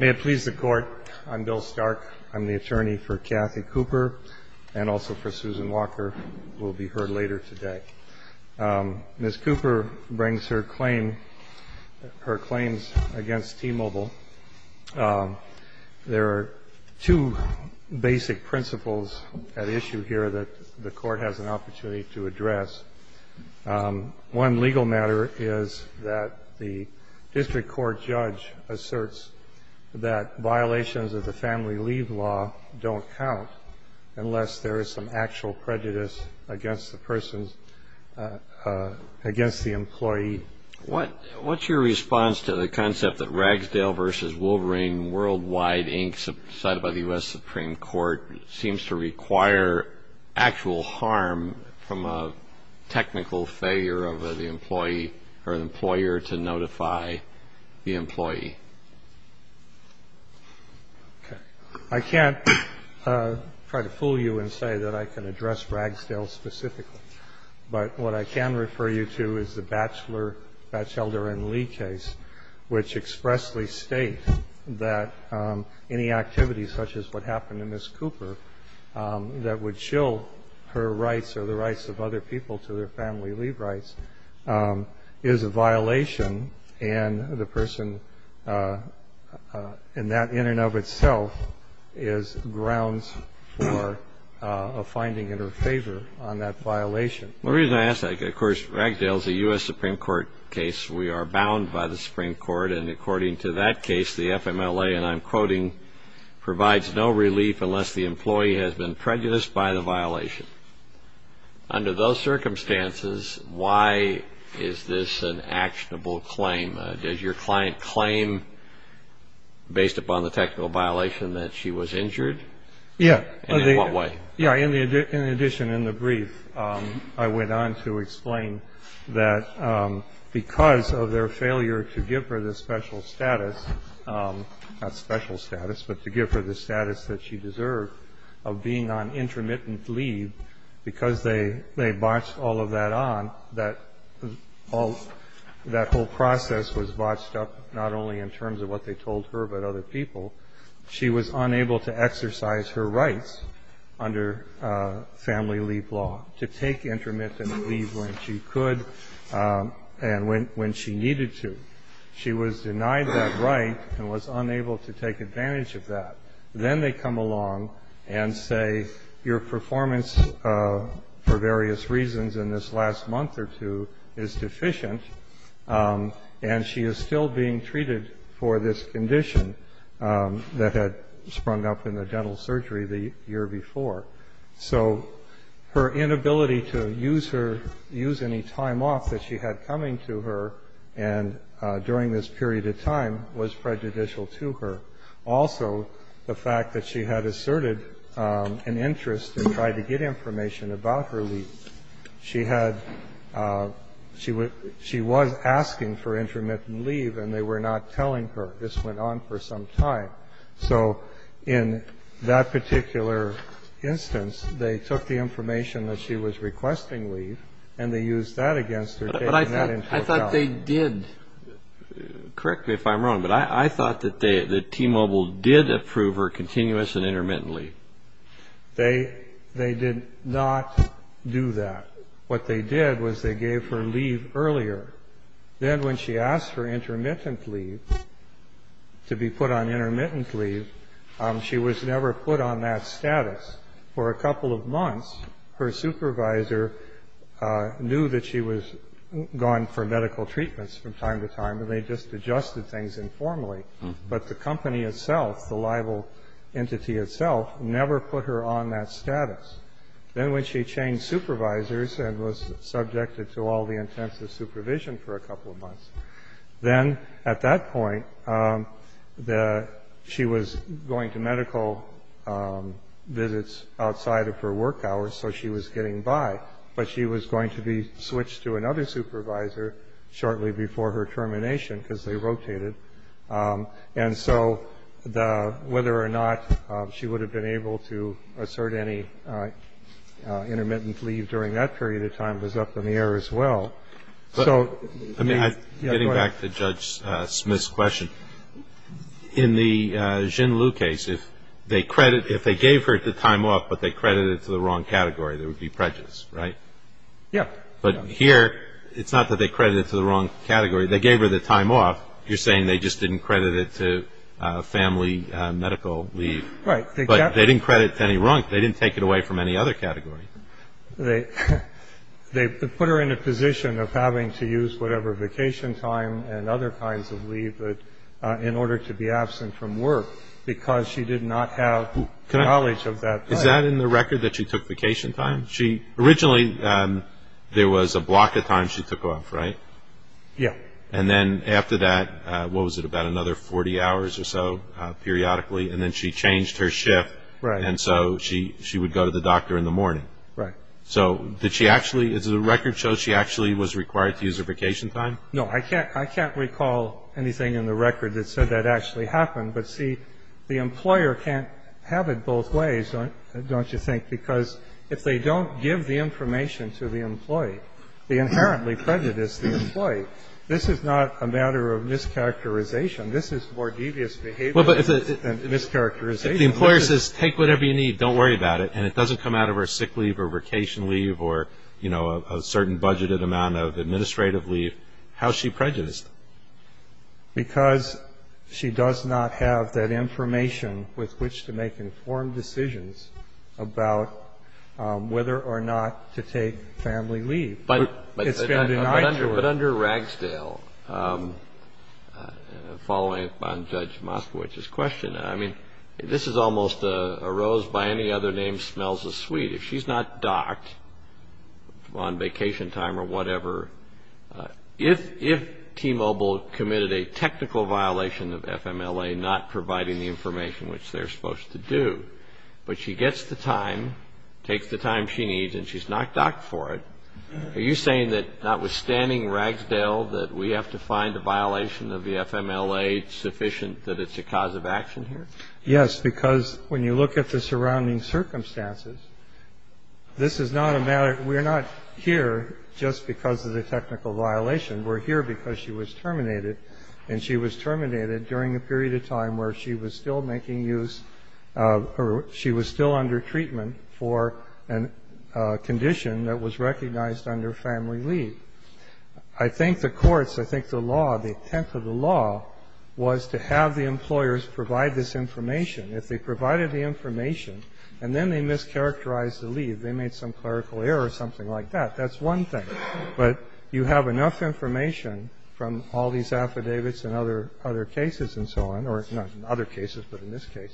May it please the Court, I'm Bill Stark, I'm the attorney for Kathy Cooper and also for Susan Walker, who will be heard later today. Ms. Cooper brings her claims against T-Mobile. There are two basic principles at issue here that the Court has an opportunity to address. One legal matter is that the district court judge asserts that violations of the family leave law don't count unless there is some actual prejudice against the person, against the employee. What's your response to the concept that Ragsdale v. Wolverine Worldwide, Inc., cited by the U.S. Supreme Court, seems to require actual harm from a technical failure of the employee or the employer to notify the employee? I can't try to fool you and say that I can address Ragsdale specifically. But what I can refer you to is the Batchelder v. Lee case, which expressly states that any activity such as what happened to Ms. Cooper that would shill her rights or the rights of other people to their family leave rights is a violation. And the person in that in and of itself is grounds for a finding in her favor on that violation. The reason I ask that, of course, Ragsdale is a U.S. Supreme Court case. We are bound by the Supreme Court. And according to that case, the FMLA, and I'm quoting, provides no relief unless the employee has been prejudiced by the violation. Under those circumstances, why is this an actionable claim? Does your client claim, based upon the technical violation, that she was injured? Yeah. And in what way? In addition, in the brief, I went on to explain that because of their failure to give her the special status, not special status, but to give her the status that she deserved of being on intermittent leave, because they botched all of that on, that whole process was botched up not only in terms of what they told her but other people. She was unable to exercise her rights under family leave law to take intermittent leave when she could and when she needed to. She was denied that right and was unable to take advantage of that. Then they come along and say your performance for various reasons in this last month or two is deficient, and she is still being treated for this condition that had sprung up in the dental surgery the year before. So her inability to use her ‑‑ use any time off that she had coming to her and during this period of time was prejudicial to her. Also, the fact that she had asserted an interest in trying to get information about her leave. She had ‑‑ she was asking for intermittent leave, and they were not telling her. This went on for some time. So in that particular instance, they took the information that she was requesting leave and they used that against her, taking that into account. But I thought they did. Correct me if I'm wrong, but I thought that T‑Mobile did approve her continuous and intermittent leave. They did not do that. What they did was they gave her leave earlier. Then when she asked for intermittent leave, to be put on intermittent leave, she was never put on that status. For a couple of months, her supervisor knew that she was gone for medical treatments from time to time, and they just adjusted things informally. But the company itself, the libel entity itself, never put her on that status. Then when she changed supervisors and was subjected to all the intensive supervision for a couple of months, then at that point, she was going to medical visits outside of her work hours, so she was getting by. But she was going to be switched to another supervisor shortly before her termination because they rotated. And so whether or not she would have been able to assert any intermittent leave during that period of time was up in the air as well. Getting back to Judge Smith's question, in the Xin Liu case, if they gave her the time off but they credited it to the wrong category, there would be prejudice, right? Yeah. But here, it's not that they credited it to the wrong category. They gave her the time off. You're saying they just didn't credit it to family medical leave. Right. But they didn't credit it to any wrong. They didn't take it away from any other category. They put her in a position of having to use whatever vacation time and other kinds of leave in order to be absent from work because she did not have knowledge of that time. Is that in the record that she took vacation time? Originally, there was a block of time she took off, right? Yeah. And then after that, what was it, about another 40 hours or so periodically? And then she changed her shift. Right. And so she would go to the doctor in the morning. Right. So did she actually – does the record show she actually was required to use her vacation time? No. I can't recall anything in the record that said that actually happened. But, see, the employer can't have it both ways, don't you think, because if they don't give the information to the employee, they inherently prejudice the employee. This is not a matter of mischaracterization. This is more devious behavior than mischaracterization. If the employer says, take whatever you need, don't worry about it, and it doesn't come out of her sick leave or vacation leave or, you know, a certain budgeted amount of administrative leave, how is she prejudiced? Because she does not have that information with which to make informed decisions about whether or not to take family leave. It's been denied to her. But under Ragsdale, following up on Judge Moskowitz's question, I mean, this is almost a rose by any other name smells as sweet. If she's not docked on vacation time or whatever, if T-Mobile committed a technical violation of FMLA not providing the information which they're supposed to do, but she gets the time, takes the time she needs, and she's not docked for it, are you saying that notwithstanding Ragsdale, that we have to find a violation of the FMLA sufficient that it's a cause of action here? Yes, because when you look at the surrounding circumstances, this is not a matter of ‑‑ we're not here just because of the technical violation. We're here because she was terminated. And she was terminated during a period of time where she was still making use of ‑‑ she was still under treatment for a condition that was recognized under family leave. I think the courts, I think the law, the intent of the law was to have the employers provide this information. If they provided the information and then they mischaracterized the leave, they made some clerical error or something like that. That's one thing. But you have enough information from all these affidavits and other cases and so on, or not in other cases, but in this case,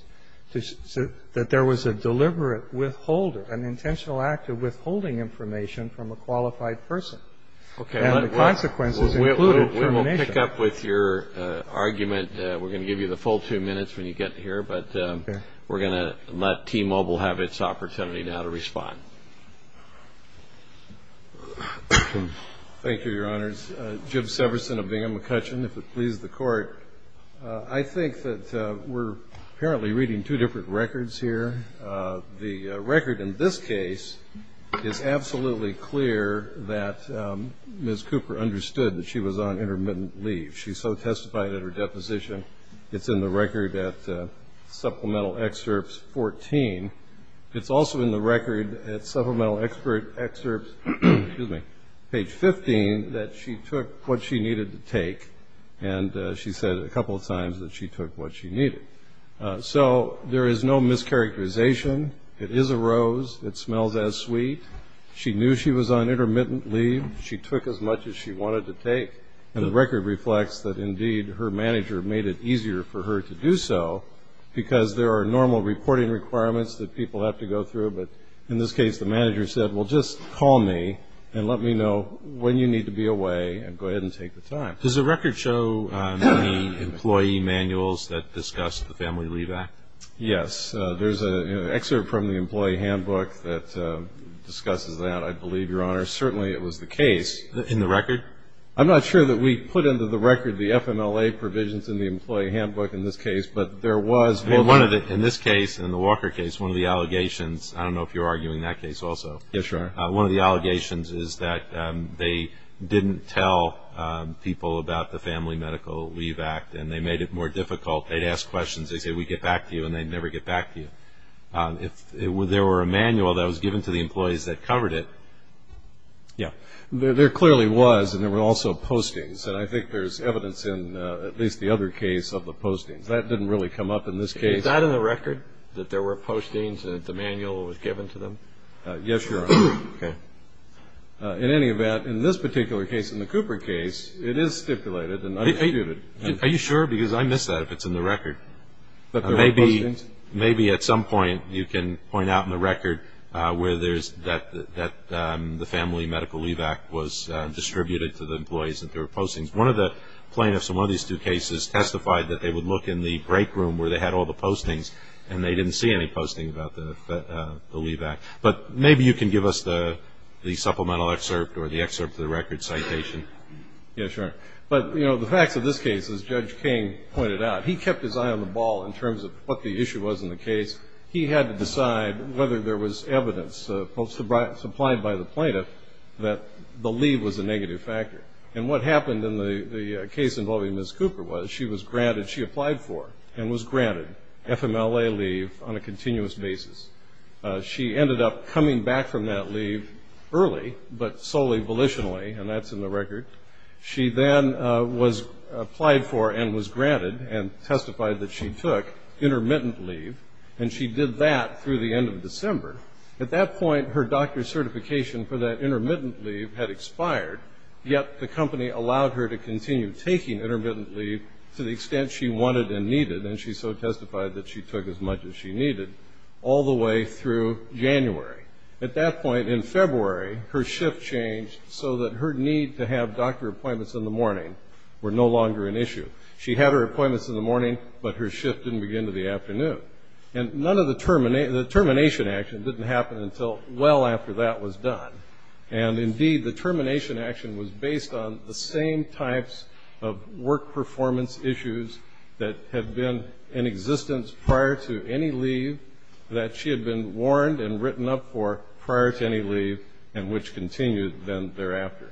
that there was a deliberate withholding, an intentional act of withholding information from a qualified person. And the consequences included termination. We're going to keep up with your argument. We're going to give you the full two minutes when you get here. But we're going to let T-Mobile have its opportunity now to respond. Thank you, Your Honors. Jim Severson of Bingham McCutcheon, if it pleases the Court. I think that we're apparently reading two different records here. The record in this case is absolutely clear that Ms. Cooper understood that she was on intermittent leave. She so testified at her deposition. It's in the record at Supplemental Excerpts 14. It's also in the record at Supplemental Excerpts, excuse me, page 15, that she took what she needed to take. And she said a couple of times that she took what she needed. So there is no mischaracterization. It is a rose. It smells as sweet. She knew she was on intermittent leave. She took as much as she wanted to take. And the record reflects that, indeed, her manager made it easier for her to do so because there are normal reporting requirements that people have to go through. But in this case, the manager said, well, just call me and let me know when you need to be away and go ahead and take the time. Does the record show any employee manuals that discuss the Family Leave Act? Yes. There's an excerpt from the Employee Handbook that discusses that, I believe, Your Honor. Certainly it was the case. In the record? I'm not sure that we put into the record the FMLA provisions in the Employee Handbook in this case, but there was one. In this case, in the Walker case, one of the allegations, I don't know if you're arguing that case also. Yes, sir. One of the allegations is that they didn't tell people about the Family Medical Leave Act and they made it more difficult. They'd ask questions. They'd say, we'd get back to you, and they'd never get back to you. If there were a manual that was given to the employees that covered it, yeah. There clearly was, and there were also postings, and I think there's evidence in at least the other case of the postings. That didn't really come up in this case. Is that in the record, that there were postings and that the manual was given to them? Yes, Your Honor. Okay. In any event, in this particular case, in the Cooper case, it is stipulated and understated. Are you sure? Because I miss that if it's in the record. Maybe at some point you can point out in the record where there's that the Family Medical Leave Act was distributed to the employees and there were postings. One of the plaintiffs in one of these two cases testified that they would look in the break room where they had all the postings and they didn't see any posting about the leave act. But maybe you can give us the supplemental excerpt or the excerpt of the record citation. Yes, Your Honor. But, you know, the facts of this case, as Judge King pointed out, he kept his eye on the ball in terms of what the issue was in the case. He had to decide whether there was evidence supplied by the plaintiff that the leave was a negative factor. And what happened in the case involving Ms. Cooper was she was granted, she applied for and was granted FMLA leave on a continuous basis. She ended up coming back from that leave early, but solely volitionally, and that's in the record. She then was applied for and was granted and testified that she took intermittent leave, and she did that through the end of December. At that point, her doctor's certification for that intermittent leave had expired, yet the company allowed her to continue taking intermittent leave to the extent she wanted and needed, and she so testified that she took as much as she needed all the way through January. At that point in February, her shift changed so that her need to have doctor appointments in the morning were no longer an issue. She had her appointments in the morning, but her shift didn't begin until the afternoon. And the termination action didn't happen until well after that was done. And, indeed, the termination action was based on the same types of work performance issues that had been in existence prior to any leave that she had been warned and written up for prior to any leave and which continued then thereafter.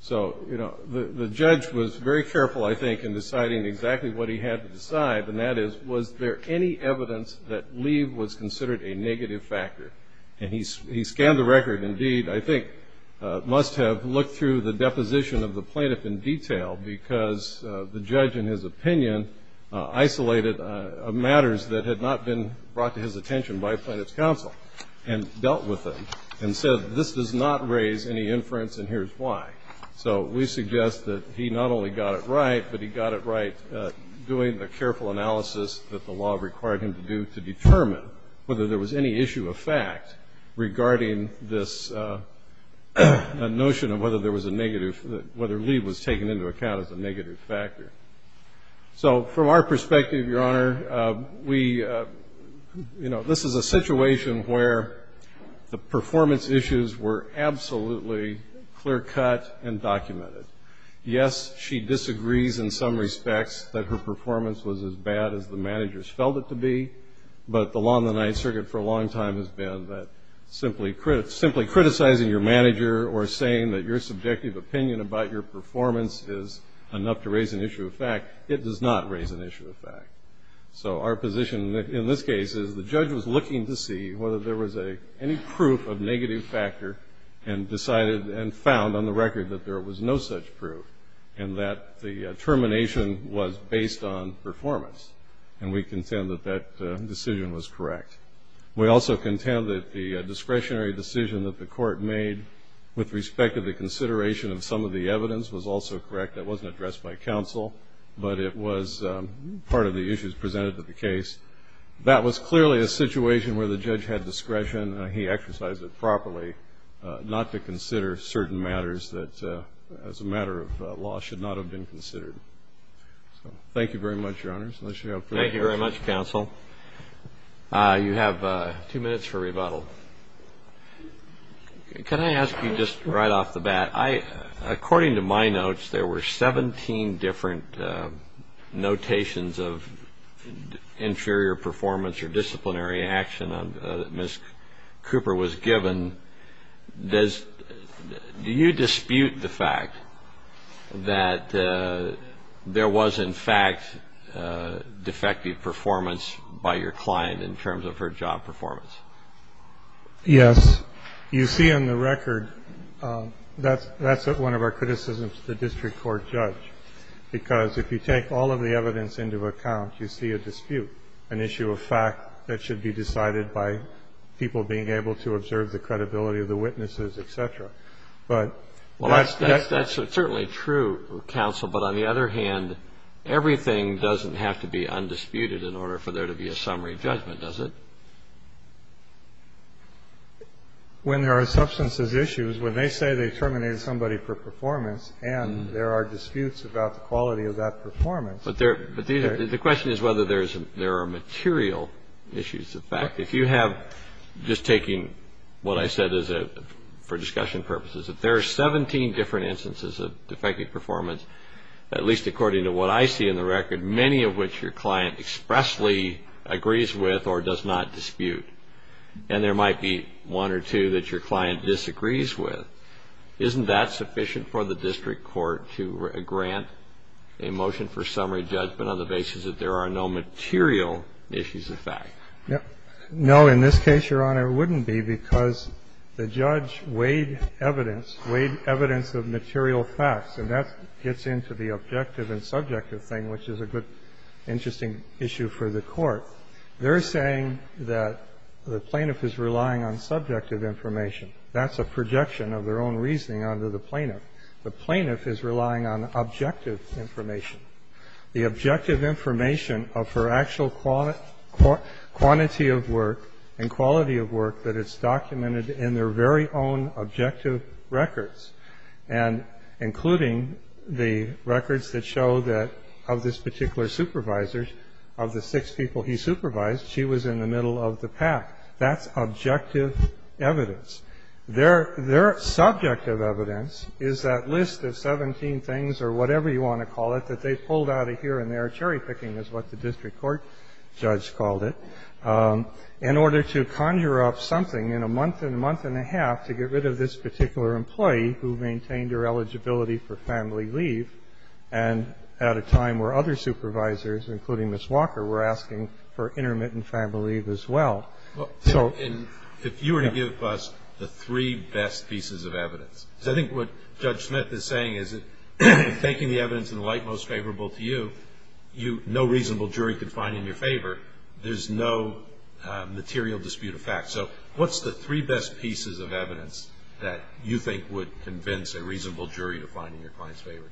So, you know, the judge was very careful, I think, in deciding exactly what he had to decide, and that is was there any evidence that leave was considered a negative factor. And he scanned the record, indeed, I think must have looked through the deposition of the plaintiff in detail because the judge, in his opinion, isolated matters that had not been brought to his attention by plaintiff's counsel and dealt with them and said this does not raise any inference and here's why. So we suggest that he not only got it right, but he got it right doing a careful analysis that the law required him to do to determine whether there was any issue of fact regarding this notion of whether leave was taken into account as a negative factor. So from our perspective, Your Honor, we, you know, this is a situation where the performance issues were absolutely clear cut and documented. Yes, she disagrees in some respects that her performance was as bad as the managers felt it to be, but the law in the Ninth Circuit for a long time has been that simply criticizing your manager or saying that your subjective opinion about your performance is enough to raise an issue of fact, it does not raise an issue of fact. So our position in this case is the judge was looking to see whether there was any proof of negative factor and decided and found on the record that there was no such proof and that the termination was based on performance. And we contend that that decision was correct. We also contend that the discretionary decision that the court made with respect to the consideration of some of the evidence was also correct. That wasn't addressed by counsel, but it was part of the issues presented to the case. That was clearly a situation where the judge had discretion, he exercised it properly, not to consider certain matters that as a matter of law should not have been considered. Thank you very much, Your Honors. Thank you very much, counsel. You have two minutes for rebuttal. Can I ask you just right off the bat, according to my notes, there were 17 different notations of inferior performance or disciplinary action that Ms. Cooper was given. Do you dispute the fact that there was, in fact, defective performance by your client in terms of her job performance? Yes. You see on the record, that's one of our criticisms of the district court judge, because if you take all of the evidence into account, you see a dispute, an issue of fact that should be decided by people being able to observe the credibility of the witnesses, et cetera. But that's certainly true, counsel. But on the other hand, everything doesn't have to be undisputed in order for there to be a summary judgment, does it? When there are substances issues, when they say they terminated somebody for performance and there are disputes about the quality of that performance. But the question is whether there are material issues of fact. If you have, just taking what I said for discussion purposes, if there are 17 different instances of defective performance, at least according to what I see in the record, many of which your client expressly agrees with or does not dispute, and there might be one or two that your client disagrees with, isn't that sufficient for the district court to grant a motion for summary judgment on the basis that there are no material issues of fact? No. In this case, Your Honor, it wouldn't be because the judge weighed evidence, weighed evidence of material facts, and that gets into the objective and subjective thing, which is a good, interesting issue for the court. They're saying that the plaintiff is relying on subjective information. That's a projection of their own reasoning under the plaintiff. The plaintiff is relying on objective information. The objective information of her actual quantity of work and quality of work that is documented in their very own objective records, and including the records that show that of this particular supervisor, of the six people he supervised, she was in the middle of the pack. That's objective evidence. Their subjective evidence is that list of 17 things or whatever you want to call it that they pulled out of here and there, cherry-picking is what the district court judge called it, in order to conjure up something in a month and a month and a half to get rid of this particular employee who maintained her eligibility for family leave and at a time where other supervisors, including Ms. Walker, were asking for intermittent family leave as well. Breyer. And if you were to give us the three best pieces of evidence, because I think what Judge Smith is saying is that if you're taking the evidence in the light most favorable to you, no reasonable jury could find it in your favor. There's no material dispute of fact. So what's the three best pieces of evidence that you think would convince a reasonable jury to find in your client's favor?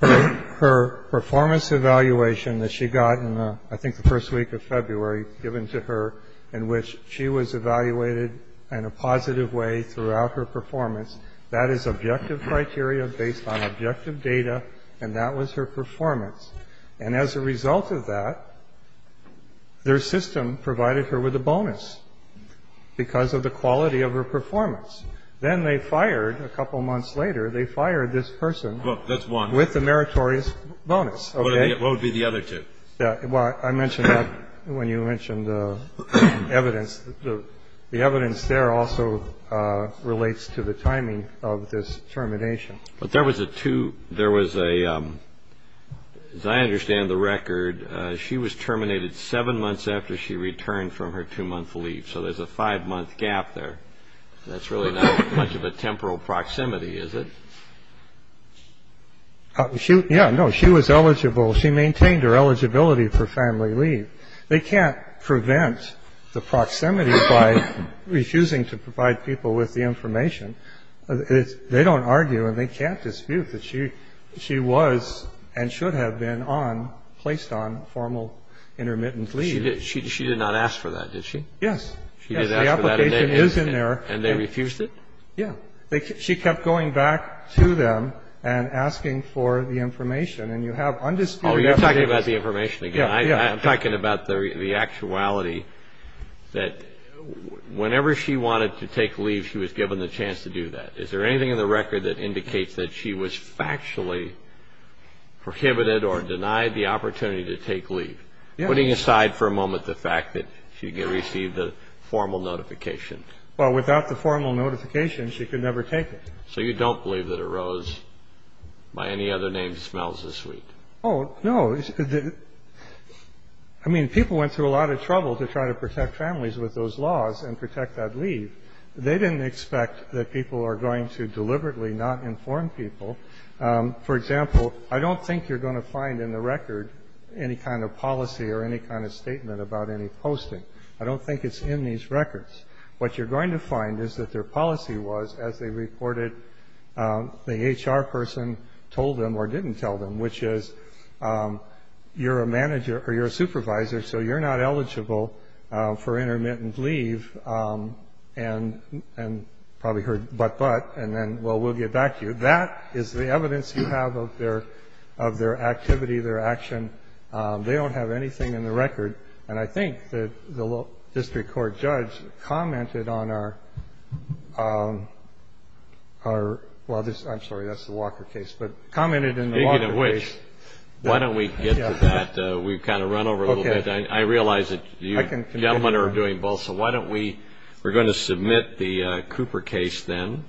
Her performance evaluation that she got in I think the first week of February given to her in which she was evaluated in a positive way throughout her performance, that is objective criteria based on objective data, and that was her performance. And as a result of that, their system provided her with a bonus because of the quality of her performance. Then they fired, a couple months later, they fired this person. That's one. With a meritorious bonus. What would be the other two? I mentioned that when you mentioned evidence. The evidence there also relates to the timing of this termination. But there was a two, there was a, as I understand the record, she was terminated seven months after she returned from her two-month leave. So there's a five-month gap there. That's really not much of a temporal proximity, is it? She, yeah, no. She was eligible. She maintained her eligibility for family leave. They can't prevent the proximity by refusing to provide people with the information. They don't argue and they can't dispute that she was and should have been on, placed on formal intermittent leave. She did not ask for that, did she? Yes. She did ask for that and they refused it? Yeah. She kept going back to them and asking for the information. And you have undisputed evidence. Oh, you're talking about the information again. Yeah, yeah. I'm talking about the actuality that whenever she wanted to take leave, she was given the chance to do that. Is there anything in the record that indicates that she was factually prohibited or denied the opportunity to take leave? Yeah. Putting aside for a moment the fact that she received the formal notification. Well, without the formal notification, she could never take it. So you don't believe that a rose by any other name smells this sweet? Oh, no. I mean, people went through a lot of trouble to try to protect families with those laws and protect that leave. They didn't expect that people are going to deliberately not inform people. For example, I don't think you're going to find in the record any kind of policy or any kind of statement about any posting. I don't think it's in these records. What you're going to find is that their policy was, as they reported, the HR person told them or didn't tell them, which is you're a manager or you're a supervisor, so you're not eligible for intermittent leave and probably heard but, but, and then, well, we'll get back to you. That is the evidence you have of their activity, their action. They don't have anything in the record. And I think that the district court judge commented on our, well, I'm sorry, that's the Walker case, but commented in the Walker case. Speaking of which, why don't we get to that? We've kind of run over a little bit. I realize that you gentlemen are doing both, so why don't we, we're going to submit the Cooper case then.